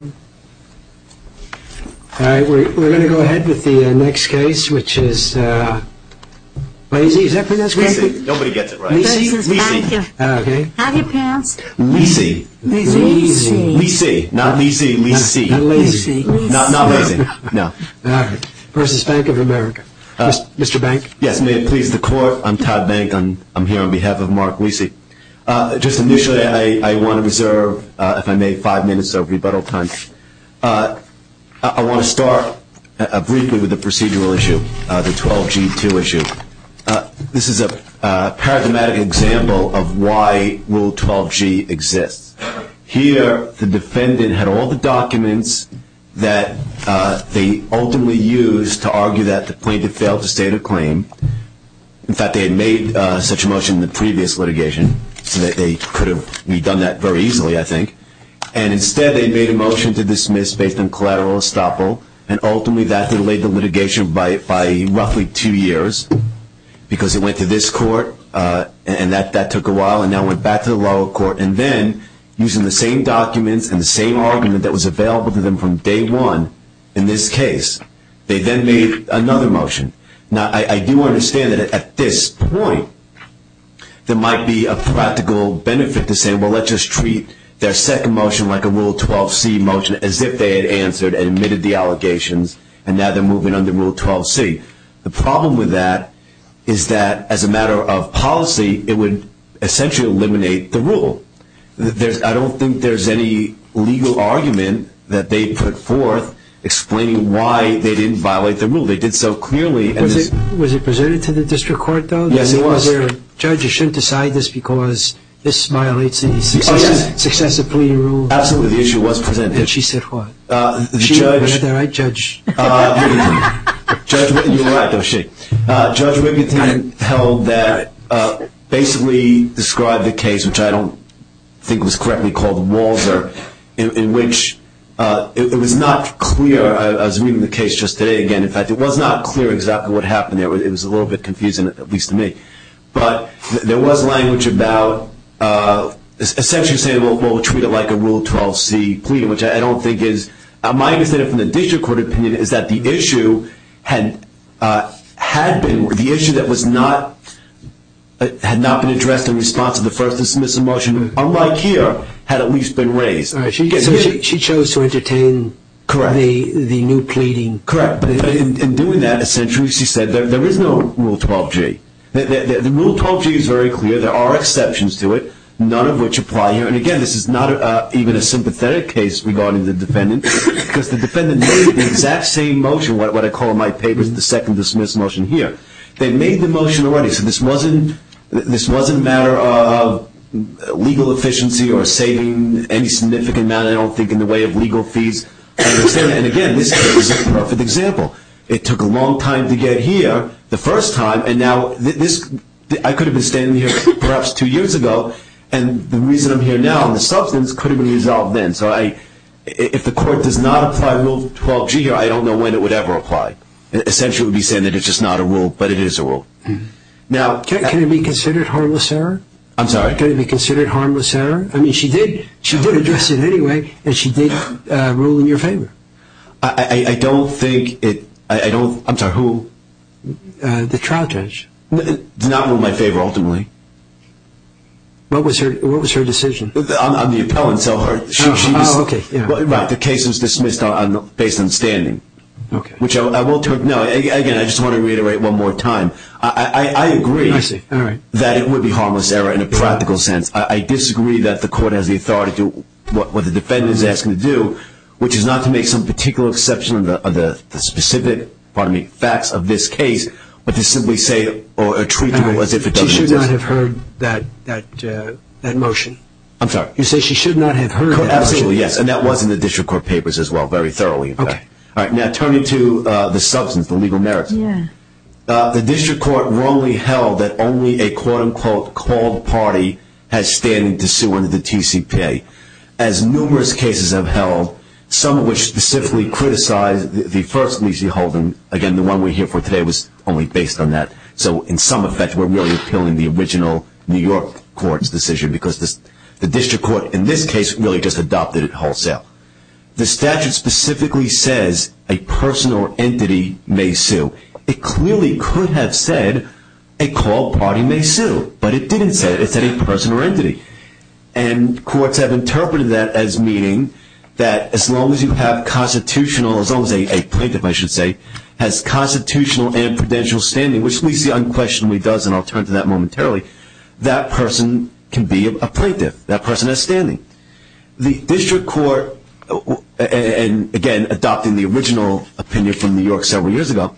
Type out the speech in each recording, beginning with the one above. We're going to go ahead with the next case, which is Lacey. Is that the next case? Lacey. Nobody gets it right. Lacey v. Bank of America. Okay. Have your pants. Lacey. Lacey. Lacey. Not Lacey. Lacey. Not Lacey. Not Lacey. No. All right. v. Bank of America. Mr. Bank? Yes. May it please the Court. I'm Todd Bank. I'm here on behalf of Mark Lacey. Just initially, I want to reserve, if I may, five minutes of rebuttal time. I want to start briefly with the procedural issue, the 12G2 issue. This is a paradigmatic example of why Rule 12G exists. Here, the defendant had all the documents that they ultimately used to argue that the plaintiff failed to state a claim. In fact, they had made such a motion in the previous litigation so that they could have redone that very easily, I think. Instead, they made a motion to dismiss based on collateral estoppel, and ultimately that delayed the litigation by roughly two years because it went to this court, and that took a while, and now it went back to the lower court. Then, using the same documents and the same argument that was available to them from day one in this case, they then made another motion. Now, I do understand that, at this point, there might be a practical benefit to saying, well, let's just treat their second motion like a Rule 12C motion, as if they had answered and admitted the allegations, and now they're moving on to Rule 12C. The problem with that is that, as a matter of policy, it would essentially eliminate the rule. I don't think there's any legal argument that they put forth explaining why they didn't violate the rule. They did so clearly. Was it presented to the district court, though? Yes, it was. The judge, you shouldn't decide this because this violates the successive plea rule. Absolutely, the issue was presented. And she said what? The judge. Was I right, Judge? You were right, though, Shane. Judge Wiginton basically described the case, which I don't think was correctly called the Walser, in which it was not clear. I was reading the case just today again. In fact, it was not clear exactly what happened there. It was a little bit confusing, at least to me. But there was language about essentially saying, well, we'll treat it like a Rule 12C plea, which I don't think is. My understanding from the district court opinion is that the issue had been, the issue that had not been addressed in response to the first dismissal motion, unlike here, had at least been raised. So she chose to entertain the new pleading. Correct. But in doing that, essentially, she said there is no Rule 12G. The Rule 12G is very clear. There are exceptions to it, none of which apply here. And, again, this is not even a sympathetic case regarding the defendant because the defendant made the exact same motion, what I call in my papers the second dismissal motion here. They made the motion already, so this wasn't a matter of legal efficiency or saving any significant amount, I don't think, in the way of legal fees. And, again, this is a perfect example. It took a long time to get here the first time, and now this, I could have been standing here perhaps two years ago, and the reason I'm here now, the substance could have been resolved then. So if the court does not apply Rule 12G here, I don't know when it would ever apply. Essentially, it would be saying that it's just not a rule, but it is a rule. Can it be considered harmless error? I'm sorry? Can it be considered harmless error? I mean, she did address it anyway, and she did rule in your favor. I don't think it – I'm sorry, who? The trial judge. It did not rule in my favor, ultimately. What was her decision? I'm the appellant, so she was – Oh, okay. Right. The case was dismissed based on standing. Okay. Which I will – no, again, I just want to reiterate one more time. I agree that it would be harmless error in a practical sense. I disagree that the court has the authority to do what the defendant is asking to do, which is not to make some particular exception of the specific, pardon me, facts of this case, but to simply say or treat it as if it doesn't exist. She should not have heard that motion. I'm sorry? You say she should not have heard that motion. Absolutely, yes, and that was in the district court papers as well, very thoroughly, in fact. All right. Now turning to the substance, the legal merits. Yeah. The district court wrongly held that only a, quote-unquote, called party has standing to sue under the TCPA, as numerous cases have held, some of which specifically criticize the first, Lisey Holden. Again, the one we're here for today was only based on that. So in some effect, we're really appealing the original New York court's decision because the district court in this case really just adopted it wholesale. The statute specifically says a person or entity may sue. It clearly could have said a called party may sue, but it didn't say it. It said a person or entity. And courts have interpreted that as meaning that as long as you have constitutional, as long as a plaintiff, I should say, has constitutional and prudential standing, which Lisey unquestionably does, and I'll turn to that momentarily, that person can be a plaintiff, that person has standing. The district court, and again, adopting the original opinion from New York several years ago.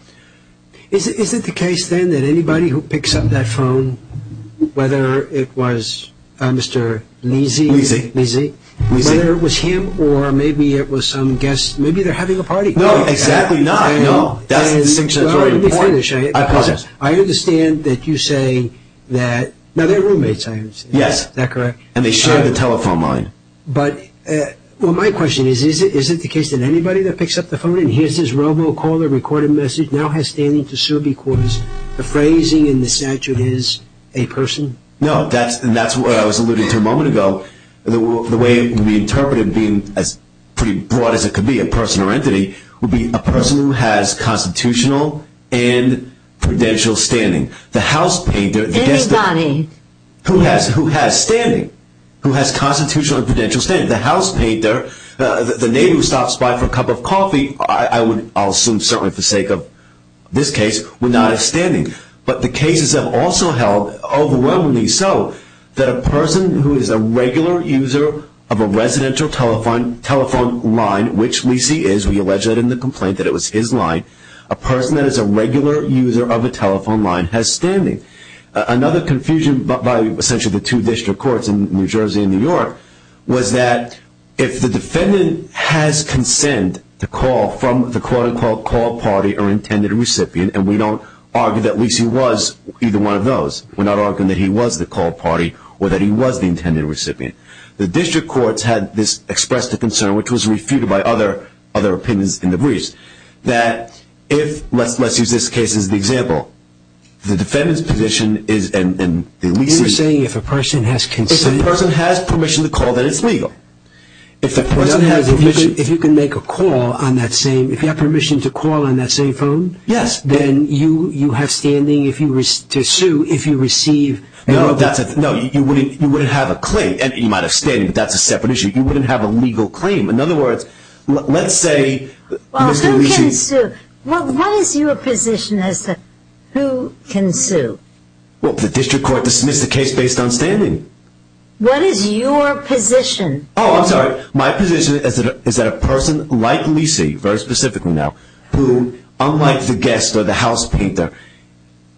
Is it the case then that anybody who picks up that phone, whether it was Mr. Lisey, whether it was him or maybe it was some guest, maybe they're having a party. No, exactly not. No. That's a distinction that's very important. Let me finish. I understand that you say that, now they're roommates, I understand. Yes. Is that correct? And they share the telephone line. But, well, my question is, is it the case that anybody that picks up the phone and hears this robocaller recorded message now has standing to sue because the phrasing in the statute is a person? No, and that's what I was alluding to a moment ago. The way we interpret it being as pretty broad as it could be, a person or entity, would be a person who has constitutional and prudential standing. The house painter, the guest of honor. Anybody. Who has standing. Who has constitutional and prudential standing. The house painter, the neighbor who stops by for a cup of coffee, I'll assume certainly for the sake of this case, would not have standing. But the cases have also held overwhelmingly so that a person who is a regular user of a residential telephone line, which Lisey is, we allege that in the complaint that it was his line, Another confusion by essentially the two district courts in New Jersey and New York, was that if the defendant has consent to call from the quote-unquote call party or intended recipient, and we don't argue that Lisey was either one of those. We're not arguing that he was the call party or that he was the intended recipient. The district courts had expressed a concern, which was refuted by other opinions in the briefs, The defendant's position is, and Lisey. You're saying if a person has consent. If a person has permission to call, then it's legal. If the person has permission. If you can make a call on that same, if you have permission to call on that same phone. Yes. Then you have standing to sue if you receive. No, you wouldn't have a claim. You might have standing, but that's a separate issue. You wouldn't have a legal claim. In other words, let's say. Well, who can sue? Well, what is your position as to who can sue? Well, the district court dismissed the case based on standing. What is your position? Oh, I'm sorry. My position is that a person like Lisey, very specifically now, who unlike the guest or the house painter,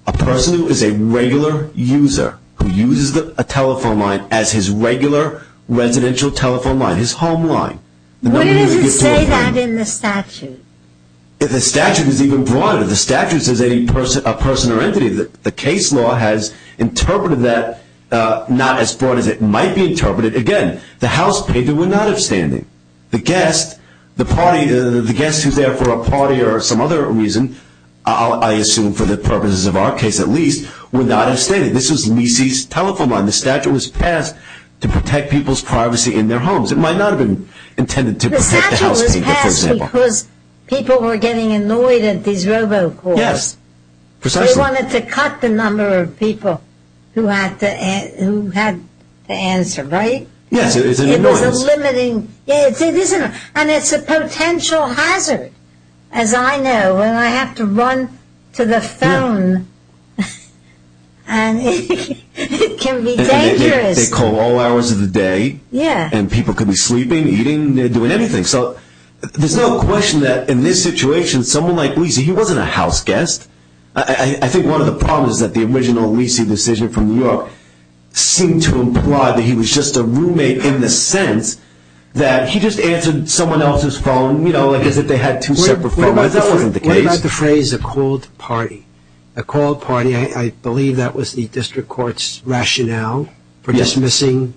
a person who is a regular user, who uses a telephone line as his regular residential telephone line, his home line. What does it say that in the statute? The statute is even broader. The statute says a person or entity. The case law has interpreted that not as broad as it might be interpreted. Again, the house painter would not have standing. The guest, the party, the guest who is there for a party or some other reason, I assume for the purposes of our case at least, would not have standing. This was Lisey's telephone line. The statute was passed to protect people's privacy in their homes. It might not have been intended to protect the house painter, for example. Because people were getting annoyed at these robocalls. Yes, precisely. They wanted to cut the number of people who had to answer, right? Yes, it was an annoyance. It was a limiting, and it's a potential hazard, as I know, when I have to run to the phone, and it can be dangerous. They call all hours of the day, and people could be sleeping, eating, doing anything. So there's no question that in this situation, someone like Lisey, he wasn't a house guest. I think one of the problems is that the original Lisey decision from New York seemed to imply that he was just a roommate in the sense that he just answered someone else's phone as if they had two separate phones. That wasn't the case. What about the phrase, a cold party? A cold party, I believe that was the district court's rationale for dismissing,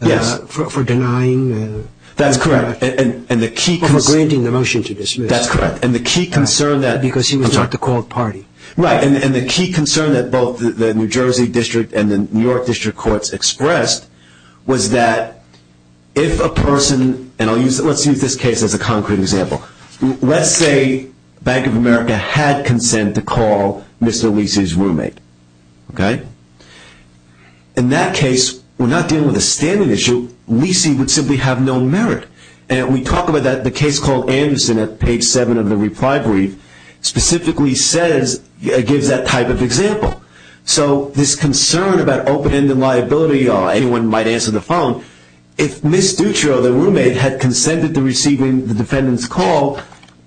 for denying. That's correct. For granting the motion to dismiss. That's correct. Because he was not the cold party. Right, and the key concern that both the New Jersey district and the New York district courts expressed was that if a person, and let's use this case as a concrete example. Let's say Bank of America had consent to call Mr. Lisey's roommate. In that case, we're not dealing with a standing issue. Lisey would simply have no merit. We talk about that in the case called Anderson at page 7 of the reply brief. Specifically, it gives that type of example. So this concern about open-ended liability, anyone might answer the phone. If Ms. Dutro, the roommate, had consented to receiving the defendant's call,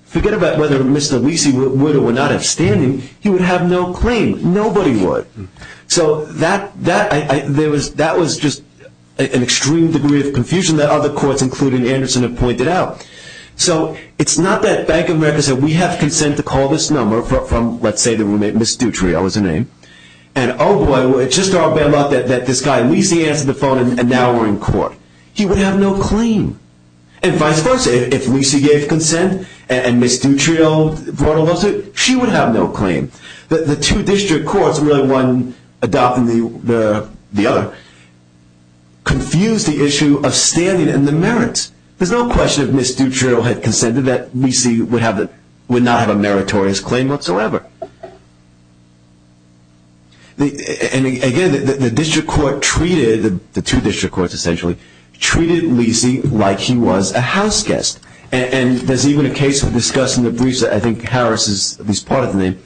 forget about whether Mr. Lisey would or would not have standing, he would have no claim. Nobody would. So that was just an extreme degree of confusion that other courts, including Anderson, have pointed out. So it's not that Bank of America said we have consent to call this number from, let's say, the roommate Ms. Dutro. That was her name. And oh boy, it's just our bad luck that this guy Lisey answered the phone and now we're in court. He would have no claim. And vice versa, if Lisey gave consent and Ms. Dutro brought a lawsuit, she would have no claim. The two district courts, really one adopting the other, confused the issue of standing and the merits. There's no question if Ms. Dutro had consented that Lisey would not have a meritorious claim whatsoever. And again, the district court treated, the two district courts essentially, treated Lisey like he was a house guest. And there's even a case we've discussed in the briefs that I think Harris is at least part of the name,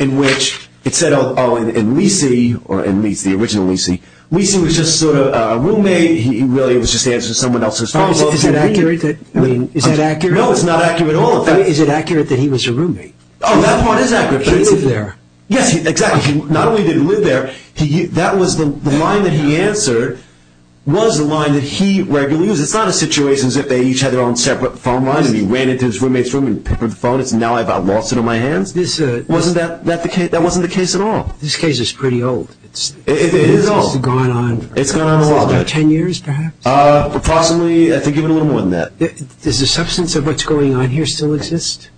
in which it said, oh, in Lisey, or in Lisey, the original Lisey, Lisey was just sort of a roommate. He really was just answering someone else's phone. Is that accurate? No, it's not accurate at all. Is it accurate that he was a roommate? Oh, that part is accurate. He lived there. Yes, exactly. Not only did he live there, that was the line that he answered was the line that he regularly used. Because it's not a situation as if they each had their own separate phone line, and he ran into his roommate's room and picked up the phone and said, now I've got Lawson on my hands. That wasn't the case at all. This case is pretty old. It is old. It's gone on. It's gone on a while. Ten years, perhaps? Approximately. I think even a little more than that. Does the substance of what's going on here still exist?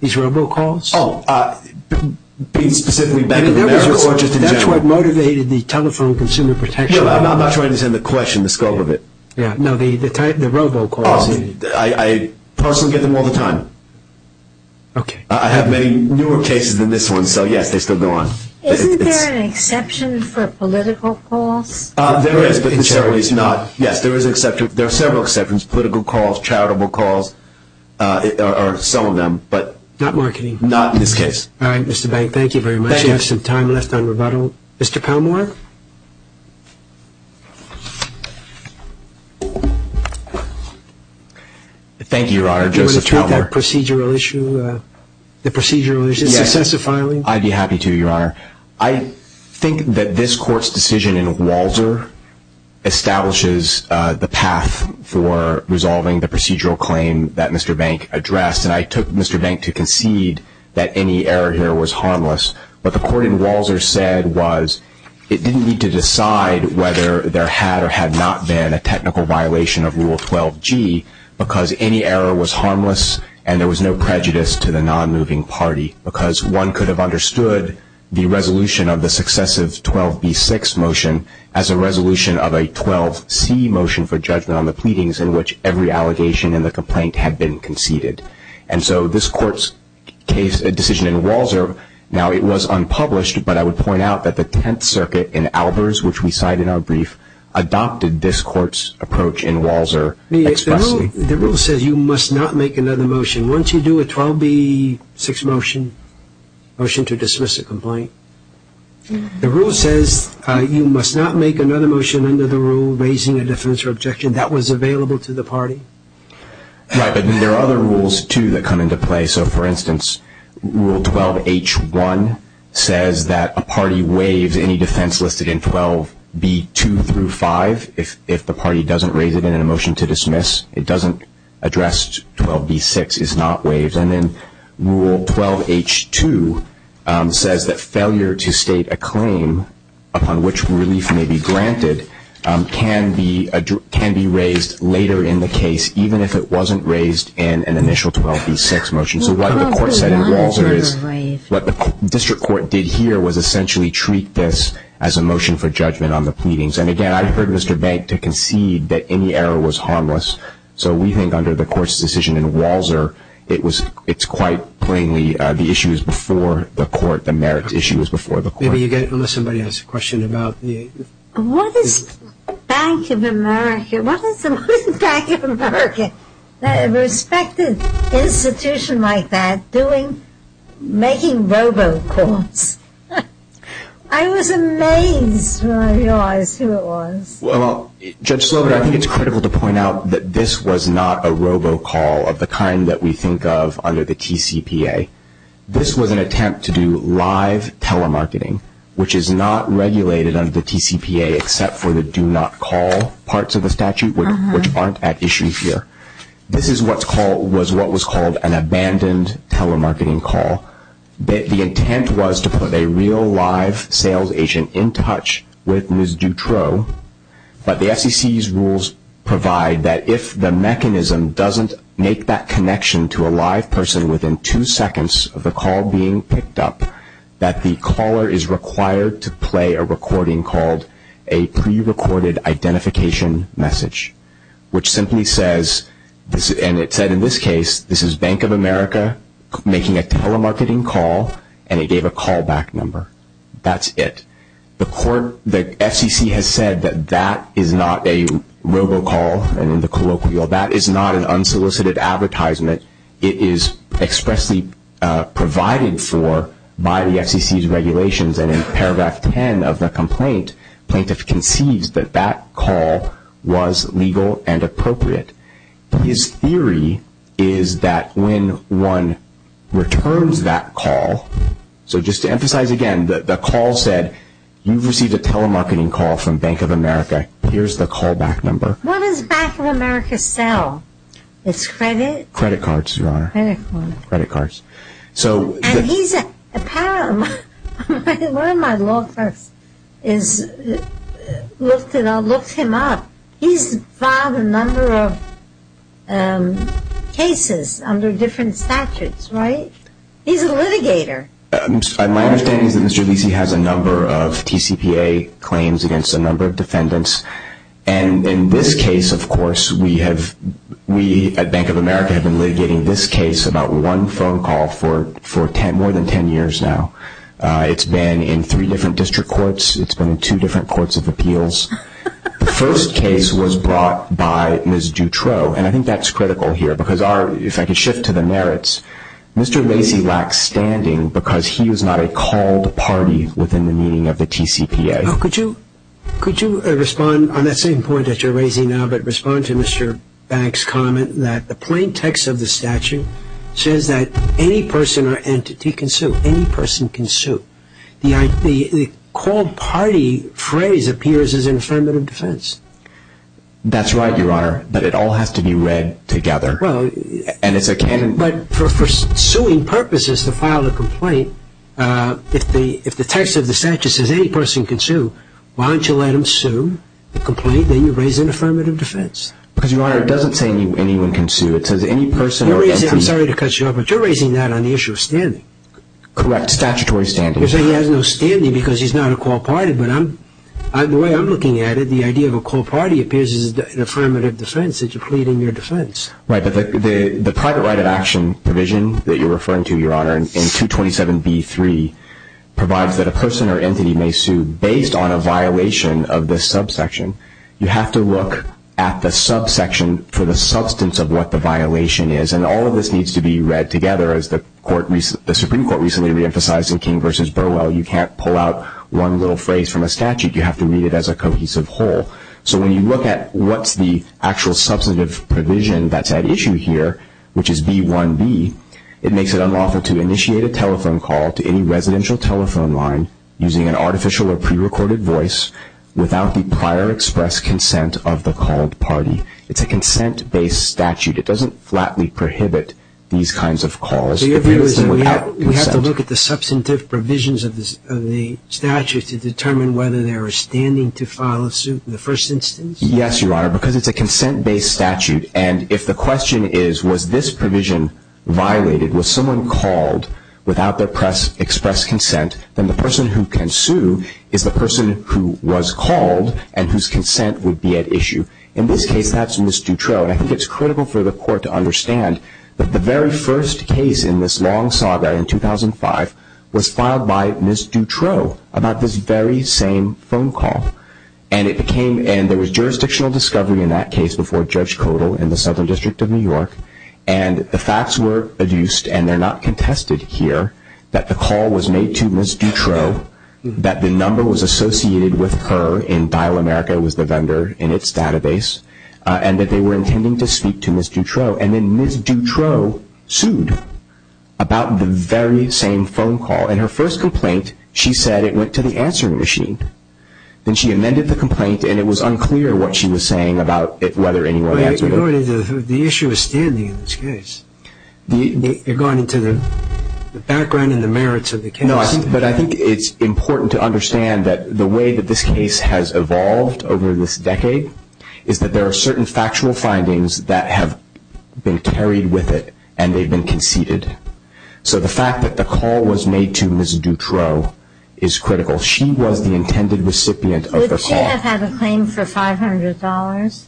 These robocalls? Oh, being specifically back in America or just in general. That's what motivated the telephone consumer protection act. No, I'm not trying to understand the question, the scope of it. No, the robocalls. I personally get them all the time. Okay. I have many newer cases than this one, so, yes, they still go on. Isn't there an exception for political calls? There is, but in several ways not. Yes, there are several exceptions, political calls, charitable calls are some of them. Not marketing. Not in this case. All right, Mr. Bank, thank you very much. Thank you. We have some time left on rebuttal. Mr. Palmore? Thank you, Your Honor. Joseph Palmore. Do you want to treat that procedural issue, the procedural issue, successively? Yes, I'd be happy to, Your Honor. I think that this Court's decision in Walzer establishes the path for resolving the procedural claim that Mr. Bank addressed. And I took Mr. Bank to concede that any error here was harmless. What the Court in Walzer said was it didn't need to decide whether there had or had not been a technical violation of Rule 12g because any error was harmless and there was no prejudice to the nonmoving party because one could have understood the resolution of the successive 12b-6 motion as a resolution of a 12c motion for judgment on the pleadings in which every allegation in the complaint had been conceded. And so this Court's decision in Walzer, now it was unpublished, but I would point out that the Tenth Circuit in Albers, which we cite in our brief, adopted this Court's approach in Walzer expressly. The rule says you must not make another motion. Once you do a 12b-6 motion to dismiss a complaint, the rule says you must not make another motion under the rule raising a defense or objection. That was available to the party. Right, but there are other rules, too, that come into play. So, for instance, Rule 12h-1 says that a party waives any defense listed in 12b-2 through 5 if the party doesn't raise it in a motion to dismiss. It doesn't address 12b-6. It's not waived. And then Rule 12h-2 says that failure to state a claim upon which relief may be granted can be raised later in the case, even if it wasn't raised in an initial 12b-6 motion. So what the Court said in Walzer is what the District Court did here was essentially treat this as a motion for judgment on the pleadings. And, again, I've heard Mr. Bank to concede that any error was harmless. So we think under the Court's decision in Walzer, it's quite plainly the issue is before the Court, the merits issue is before the Court. Maybe you get it unless somebody has a question about the... What is the Bank of America, what is the Bank of America, a respected institution like that, doing, making robocalls? I was amazed when I realized who it was. Well, Judge Sloboda, I think it's critical to point out that this was not a robocall of the kind that we think of under the TCPA. This was an attempt to do live telemarketing, which is not regulated under the TCPA except for the do-not-call parts of the statute, which aren't at issue here. This was what was called an abandoned telemarketing call. The intent was to put a real live sales agent in touch with Ms. Dutroux, but the SEC's rules provide that if the mechanism doesn't make that connection to a live person within two seconds of the call being picked up, that the caller is required to play a recording called a prerecorded identification message, which simply says, and it said in this case, this is Bank of America making a telemarketing call, and it gave a callback number. That's it. The Court, the FCC has said that that is not a robocall, and in the colloquial, that is not an unsolicited advertisement. It is expressly provided for by the FCC's regulations, and in paragraph 10 of the complaint, plaintiff concedes that that call was legal and appropriate. His theory is that when one returns that call, so just to emphasize again, the call said, you've received a telemarketing call from Bank of America. Here's the callback number. What does Bank of America sell? It's credit? Credit cards, Your Honor. Credit cards. Credit cards. And he's apparently, one of my law clerks looked him up. He's filed a number of cases under different statutes, right? He's a litigator. My understanding is that Mr. Vesey has a number of TCPA claims against a number of defendants, and in this case, of course, we at Bank of America have been litigating this case, about one phone call for more than ten years now. It's been in three different district courts. It's been in two different courts of appeals. The first case was brought by Ms. Dutroux, and I think that's critical here, because if I could shift to the merits, Mr. Vesey lacks standing because he is not a called party within the meaning of the TCPA. Could you respond on that same point that you're raising now, but respond to Mr. Bank's comment that the plain text of the statute says that any person or entity can sue, any person can sue. The called party phrase appears as an affirmative defense. That's right, Your Honor, but it all has to be read together, and it's a canon. But for suing purposes, to file a complaint, if the text of the statute says any person can sue, why don't you let him sue the complaint, then you raise an affirmative defense. Because, Your Honor, it doesn't say anyone can sue. I'm sorry to cut you off, but you're raising that on the issue of standing. Correct, statutory standing. You're saying he has no standing because he's not a called party, but the way I'm looking at it, the idea of a called party appears as an affirmative defense, that you're pleading your defense. Right, but the private right of action provision that you're referring to, Your Honor, in 227b-3, provides that a person or entity may sue based on a violation of this subsection. You have to look at the subsection for the substance of what the violation is, and all of this needs to be read together. As the Supreme Court recently reemphasized in King v. Burwell, you can't pull out one little phrase from a statute. You have to read it as a cohesive whole. So when you look at what's the actual substantive provision that's at issue here, which is v. 1b, it makes it unlawful to initiate a telephone call to any residential telephone line using an artificial or prerecorded voice without the prior express consent of the called party. It's a consent-based statute. It doesn't flatly prohibit these kinds of calls. So your view is that we have to look at the substantive provisions of the statute to determine whether they are standing to file a suit in the first instance? Yes, Your Honor, because it's a consent-based statute. And if the question is, was this provision violated? Was someone called without their express consent? Then the person who can sue is the person who was called and whose consent would be at issue. In this case, that's Ms. Dutroux. And I think it's critical for the Court to understand that the very first case in this long saga in 2005 was filed by Ms. Dutroux about this very same phone call. And there was jurisdictional discovery in that case before Judge Codal in the Southern District of New York. And the facts were adduced, and they're not contested here, that the call was made to Ms. Dutroux, that the number was associated with her in Dial America was the vendor in its database, and that they were intending to speak to Ms. Dutroux. And then Ms. Dutroux sued about the very same phone call. In her first complaint, she said it went to the answering machine. Then she amended the complaint, and it was unclear what she was saying about whether anyone answered it. The issue is standing in this case. You're going into the background and the merits of the case. No, but I think it's important to understand that the way that this case has evolved over this decade is that there are certain factual findings that have been carried with it, and they've been conceded. So the fact that the call was made to Ms. Dutroux is critical. She was the intended recipient of the call. Would she have had a claim for $500?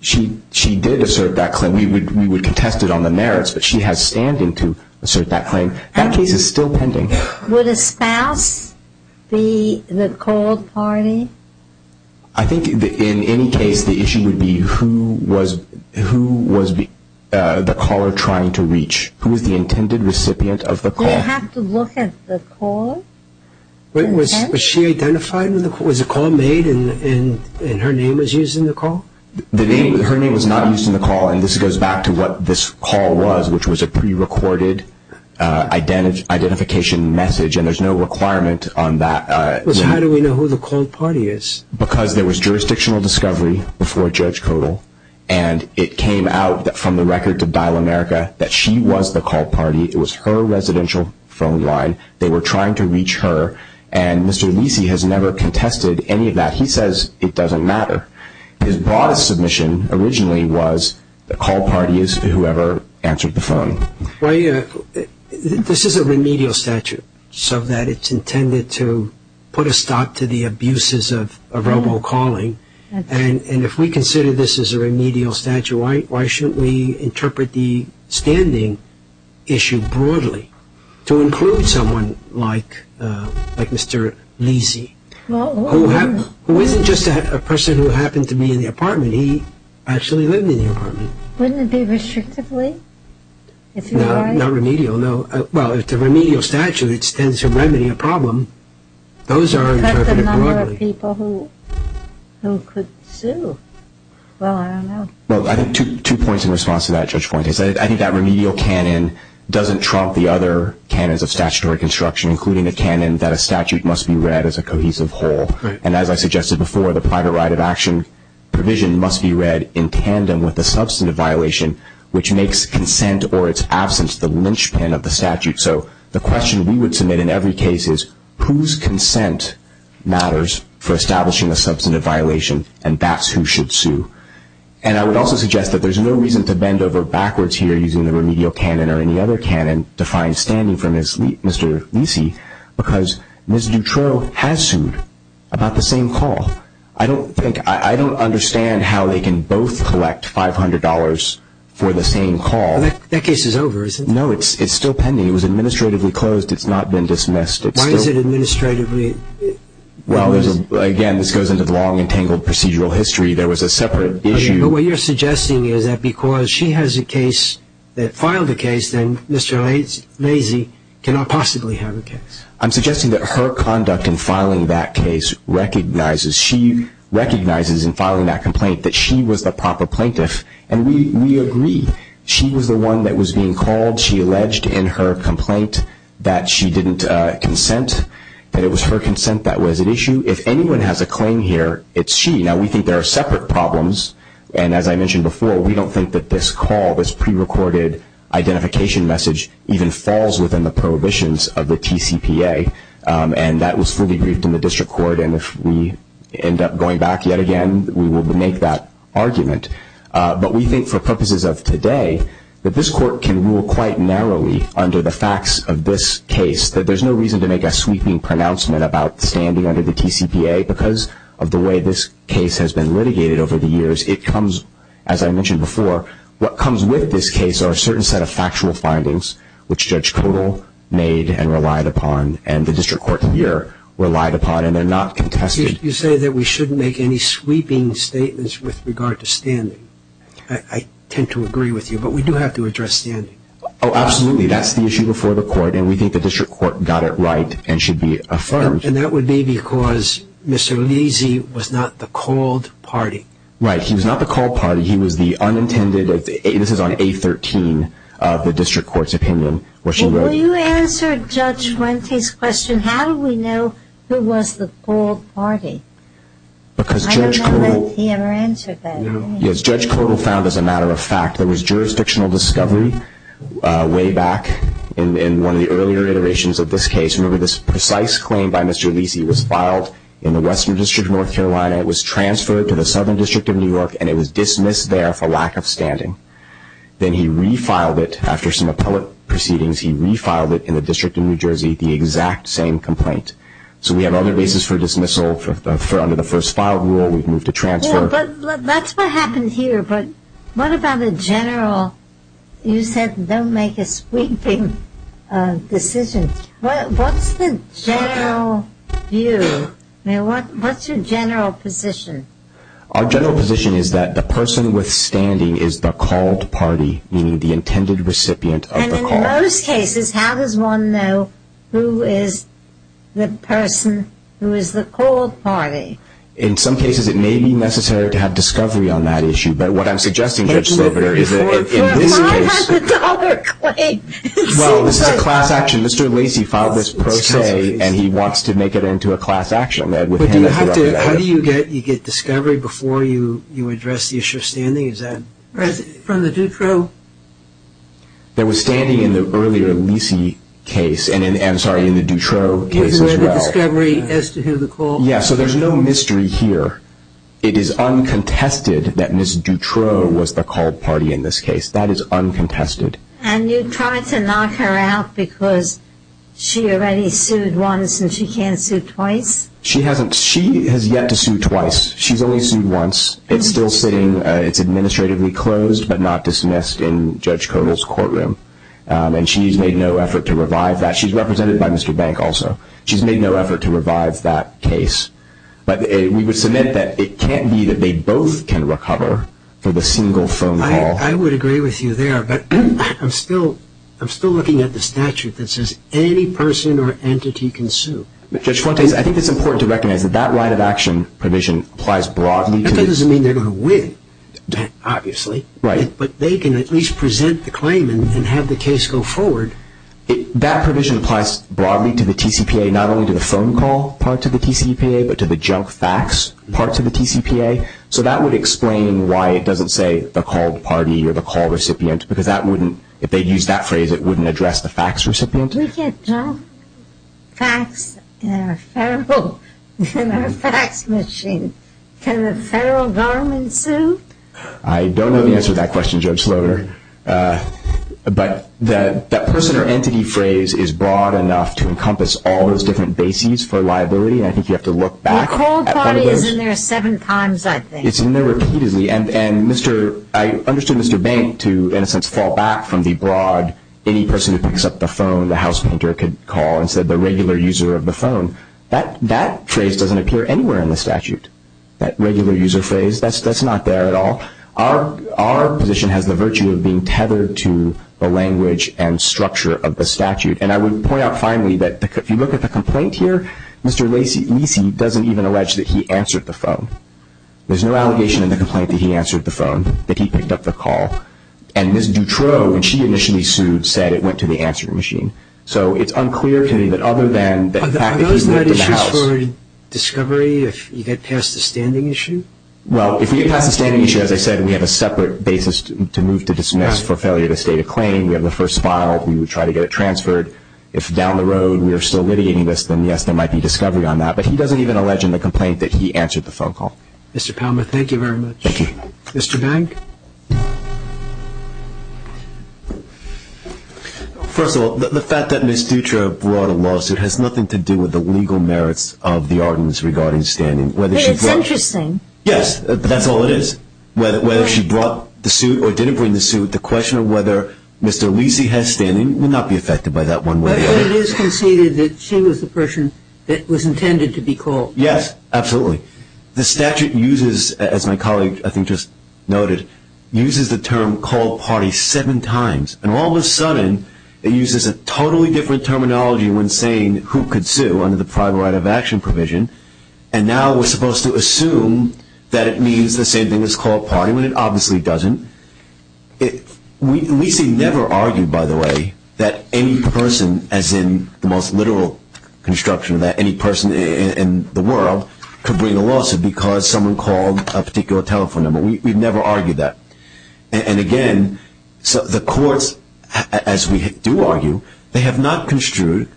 She did assert that claim. We would contest it on the merits, but she has standing to assert that claim. That case is still pending. Would a spouse be the cold party? I think in any case, the issue would be who was the caller trying to reach. Who was the intended recipient of the call? Do you have to look at the call? Was she identified when the call was made, and her name was used in the call? Her name was not used in the call, and this goes back to what this call was, which was a prerecorded identification message, and there's no requirement on that. So how do we know who the cold party is? Because there was jurisdictional discovery before Judge Kodal, and it came out from the record to Dial America that she was the cold party. It was her residential phone line. They were trying to reach her, and Mr. Lisi has never contested any of that. He says it doesn't matter. His broadest submission originally was the cold party is whoever answered the phone. This is a remedial statute so that it's intended to put a stop to the abuses of robo-calling, and if we consider this as a remedial statute, why shouldn't we interpret the standing issue broadly to include someone like Mr. Lisi, who isn't just a person who happened to be in the apartment. He actually lived in the apartment. Wouldn't it be restrictively? Not remedial, no. Well, it's a remedial statute. It stands to remedy a problem. Those are interpreted broadly. What about the number of people who could sue? Well, I don't know. Well, I think two points in response to that, Judge Point. I think that remedial canon doesn't trump the other canons of statutory construction, including the canon that a statute must be read as a cohesive whole, and as I suggested before, the private right of action provision must be read in tandem with the substantive violation, which makes consent or its absence the lynchpin of the statute. So the question we would submit in every case is, whose consent matters for establishing a substantive violation, and that's who should sue. And I would also suggest that there's no reason to bend over backwards here using the remedial canon or any other canon to find standing for Mr. Lisi because Ms. Dutroux has sued about the same call. I don't understand how they can both collect $500 for the same call. That case is over, isn't it? No, it's still pending. It was administratively closed. It's not been dismissed. Why is it administratively? Well, again, this goes into the long and tangled procedural history. There was a separate issue. But what you're suggesting is that because she has a case that filed a case, then Mr. Lisi cannot possibly have a case. I'm suggesting that her conduct in filing that case recognizes, she recognizes in filing that complaint that she was the proper plaintiff, and we agree. She was the one that was being called. She alleged in her complaint that she didn't consent, that it was her consent that was at issue. If anyone has a claim here, it's she. Now, we think there are separate problems, and as I mentioned before, we don't think that this call, this prerecorded identification message, even falls within the prohibitions of the TCPA, and that was fully briefed in the district court, and if we end up going back yet again, we will make that argument. But we think for purposes of today that this court can rule quite narrowly under the facts of this case, that there's no reason to make a sweeping pronouncement about standing under the TCPA because of the way this case has been litigated over the years. It comes, as I mentioned before, what comes with this case are a certain set of factual findings, which Judge Kodal made and relied upon, and the district court here relied upon, and they're not contested. You say that we shouldn't make any sweeping statements with regard to standing. I tend to agree with you, but we do have to address standing. Oh, absolutely. That's the issue before the court, and we think the district court got it right and should be affirmed. And that would be because Mr. Lisi was not the called party. Right. He was not the called party. He was the unintended. This is on A13 of the district court's opinion where she wrote. Well, you answered Judge Wente's question, how do we know who was the called party? Because Judge Kodal. I don't know that he ever answered that. Yes, Judge Kodal found as a matter of fact there was jurisdictional discovery way back in one of the earlier iterations of this case. Remember, this precise claim by Mr. Lisi was filed in the Western District of North Carolina. It was transferred to the Southern District of New York, and it was dismissed there for lack of standing. Then he refiled it after some appellate proceedings. He refiled it in the District of New Jersey, the exact same complaint. So we have other reasons for dismissal. Under the first file rule, we've moved to transfer. Yeah, but that's what happened here. But what about the general? You said don't make a sweeping decision. What's the general view? Now, what's your general position? Our general position is that the person withstanding is the called party, meaning the intended recipient of the call. And in most cases, how does one know who is the person who is the called party? In some cases, it may be necessary to have discovery on that issue. But what I'm suggesting, Judge Slobider, is that in this case. Well, if I had the dollar claim, it seems like. Mr. Lacy filed this pro se, and he wants to make it into a class action. How do you get discovery before you address the issue of standing? From the Dutro? There was standing in the earlier Lacy case, and I'm sorry, in the Dutro case as well. The discovery as to who the called party was. Yeah, so there's no mystery here. It is uncontested that Ms. Dutro was the called party in this case. That is uncontested. And you try to knock her out because she already sued once and she can't sue twice? She hasn't. She has yet to sue twice. She's only sued once. It's still sitting. It's administratively closed but not dismissed in Judge Kodal's courtroom. And she's made no effort to revive that. She's represented by Mr. Bank also. She's made no effort to revive that case. I would agree with you there, but I'm still looking at the statute that says any person or entity can sue. Judge Fuentes, I think it's important to recognize that that right of action provision applies broadly. That doesn't mean they're going to win, obviously. Right. But they can at least present the claim and have the case go forward. That provision applies broadly to the TCPA, not only to the phone call part to the TCPA, but to the junk facts part to the TCPA. So that would explain why it doesn't say the called party or the call recipient because that wouldn't, if they used that phrase, it wouldn't address the fax recipient. We get junk facts in our fax machine. Can the federal government sue? I don't know the answer to that question, Judge Sloder. But that person or entity phrase is broad enough to encompass all those different bases for liability. I think you have to look back. The called party is in there seven times, I think. It's in there repeatedly. And I understood Mr. Bank to, in a sense, fall back from the broad, any person who picks up the phone the house painter could call and said the regular user of the phone. That phrase doesn't appear anywhere in the statute, that regular user phrase. That's not there at all. Our position has the virtue of being tethered to the language and structure of the statute. And I would point out finally that if you look at the complaint here, Mr. Lisi doesn't even allege that he answered the phone. There's no allegation in the complaint that he answered the phone, that he picked up the call. And Ms. Dutroux, when she initially sued, said it went to the answering machine. So it's unclear to me that other than the fact that he moved to the house. Are those not issues for discovery if you get past the standing issue? Well, if we get past the standing issue, as I said, we would try to get it transferred. If down the road we are still litigating this, then, yes, there might be discovery on that. But he doesn't even allege in the complaint that he answered the phone call. Mr. Palma, thank you very much. Thank you. Mr. Bank? First of all, the fact that Ms. Dutroux brought a lawsuit has nothing to do with the legal merits of the audience regarding standing. It's interesting. Yes, that's all it is. Whether she brought the suit or didn't bring the suit, the question of whether Mr. Lisi has standing will not be affected by that one way or the other. But it is conceded that she was the person that was intended to be called. Yes, absolutely. The statute uses, as my colleague I think just noted, uses the term called party seven times. And all of a sudden it uses a totally different terminology when saying who could sue under the private right of action provision. And now we're supposed to assume that it means the same thing as called party when it obviously doesn't. Lisi never argued, by the way, that any person, as in the most literal construction of that, any person in the world could bring a lawsuit because someone called a particular telephone number. We've never argued that. And again, the courts, as we do argue, they have not construed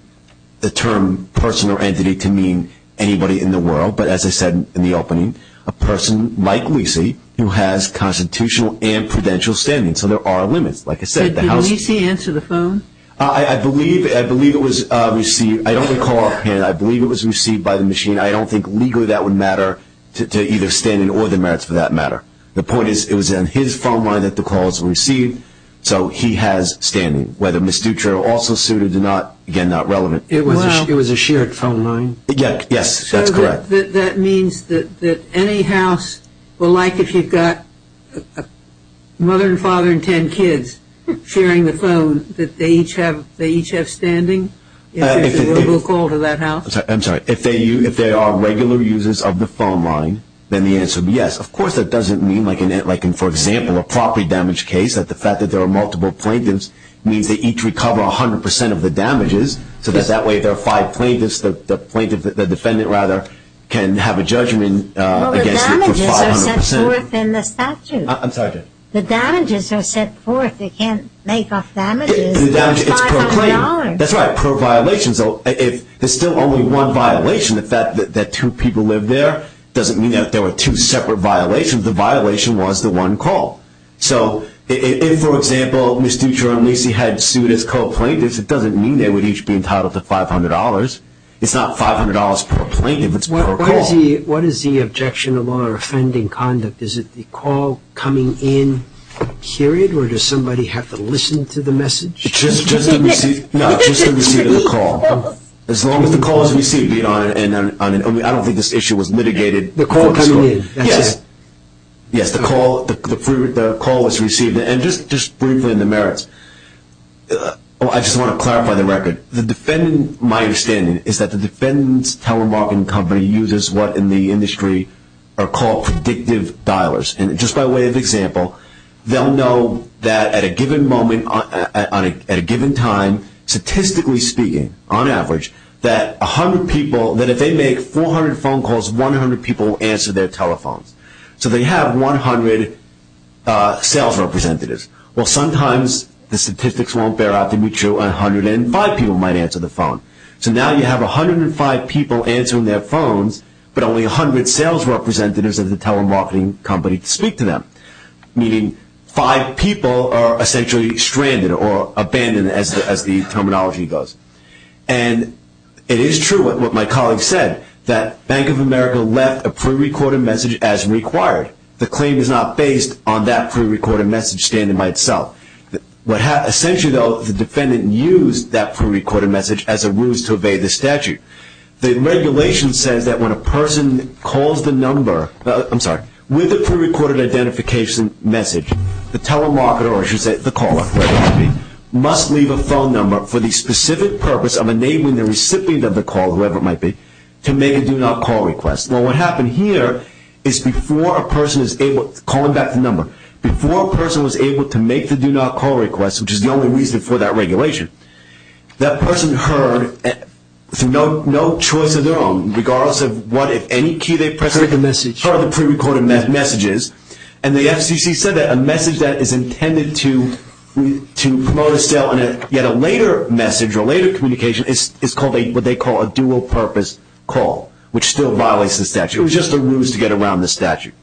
the term person or entity to mean anybody in the world. But as I said in the opening, a person like Lisi who has constitutional and prudential standing. So there are limits. Did Lisi answer the phone? I believe it was received. I don't recall. I believe it was received by the machine. I don't think legally that would matter to either standing or the merits for that matter. The point is it was in his phone line that the calls were received. So he has standing. Whether Ms. Dutro also sued or did not, again, not relevant. It was a shared phone line? Yes, that's correct. So that means that any house will like if you've got a mother and father and ten kids sharing the phone, that they each have standing if there's a mobile call to that house? I'm sorry. If they are regular users of the phone line, then the answer would be yes. Of course that doesn't mean like in, for example, a property damage case, that the fact that there are multiple plaintiffs means they each recover 100% of the damages, so that that way their five plaintiffs, the defendant rather, can have a judgment against you for 500%. Well, the damages are set forth in the statute. I'm sorry. The damages are set forth. They can't make off damages. It's per claim. That's right, per violation. So if there's still only one violation, the fact that two people live there doesn't mean that there were two separate violations. The violation was the one call. So if, for example, Ms. Deutscher and Lacy had sued as co-plaintiffs, it doesn't mean they would each be entitled to $500. It's not $500 per plaintiff. It's per call. What is the objection of law or offending conduct? Is it the call coming in, period, or does somebody have to listen to the message? No, just the receipt of the call. As long as the call is received. I don't think this issue was mitigated. The call coming in. Yes. Yes, the call was received. And just briefly on the merits, I just want to clarify the record. My understanding is that the defendant's telemarketing company uses what in the industry are called predictive dialers. And just by way of example, they'll know that at a given time, statistically speaking, on average, that if they make 400 phone calls, 100 people will answer their telephones. So they have 100 sales representatives. Well, sometimes the statistics won't bear out to be true. 105 people might answer the phone. So now you have 105 people answering their phones, but only 100 sales representatives of the telemarketing company speak to them. Meaning five people are essentially stranded or abandoned, as the terminology goes. And it is true what my colleague said, that Bank of America left a prerecorded message as required. The claim is not based on that prerecorded message standing by itself. Essentially, though, the defendant used that prerecorded message as a ruse to obey the statute. The regulation says that when a person calls the number, I'm sorry, with a prerecorded identification message, the telemarketer, or I should say the caller, wherever it might be, must leave a phone number for the specific purpose of enabling the recipient of the call, whoever it might be, to make a do not call request. Well, what happened here is before a person is able to call back the number, before a person was able to make the do not call request, which is the only reason for that regulation, that person heard through no choice of their own, regardless of what, if any, key they pressed, heard the prerecorded messages. And the FCC said that a message that is intended to promote a sale in yet a later message or later communication is what they call a dual-purpose call, which still violates the statute. It was just a ruse to get around the statute.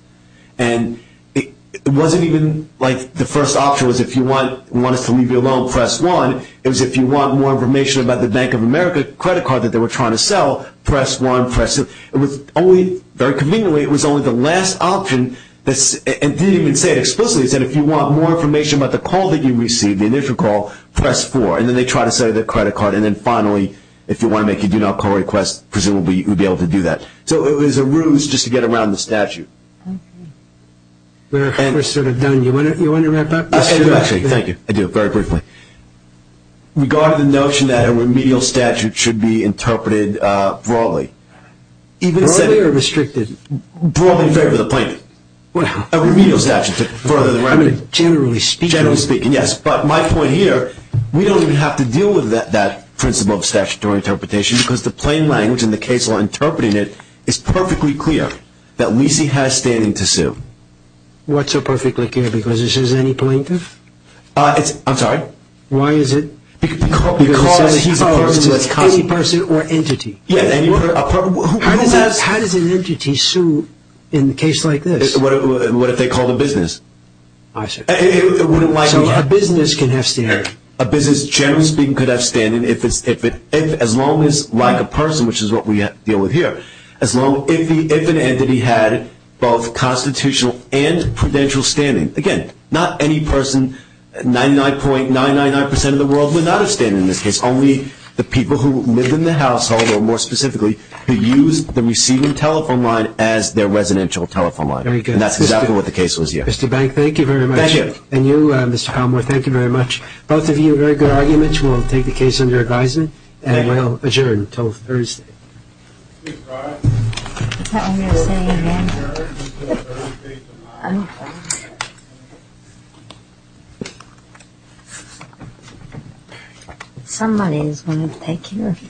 And it wasn't even like the first option was if you want us to leave you alone, press 1. It was if you want more information about the Bank of America credit card that they were trying to sell, press 1. It was only, very conveniently, it was only the last option. It didn't even say it explicitly. It said if you want more information about the call that you received, the initial call, press 4. And then they tried to sell you the credit card. And then finally, if you want to make a do not call request, presumably you would be able to do that. So it was a ruse just to get around the statute. We're sort of done. Do you want to wrap up? Actually, thank you. I do. Very briefly. Regarding the notion that a remedial statute should be interpreted broadly. Broadly or restricted? Broadly in favor of the plaintiff. A remedial statute to further the remedy. Generally speaking. Generally speaking, yes. But my point here, we don't even have to deal with that principle of statutory interpretation because the plain language in the case law interpreting it is perfectly clear that Lisi has standing to sue. What's so perfectly clear? Because this is any plaintiff? I'm sorry? Why is it? Because he's a person or entity. How does an entity sue in a case like this? What if they called a business? I see. So a business can have standing. A business, generally speaking, could have standing as long as, like a person, which is what we deal with here, as long as an entity had both constitutional and prudential standing. Again, not any person, 99.999% of the world, would not have standing in this case, only the people who live in the household or, more specifically, who use the receiving telephone line as their residential telephone line. Very good. And that's exactly what the case was here. Mr. Bank, thank you very much. Thank you. And you, Mr. Palmore, thank you very much. Both of you, very good arguments. We'll take the case under advisement and we'll adjourn until Thursday. Is that what you were saying again? Somebody is going to take care of this.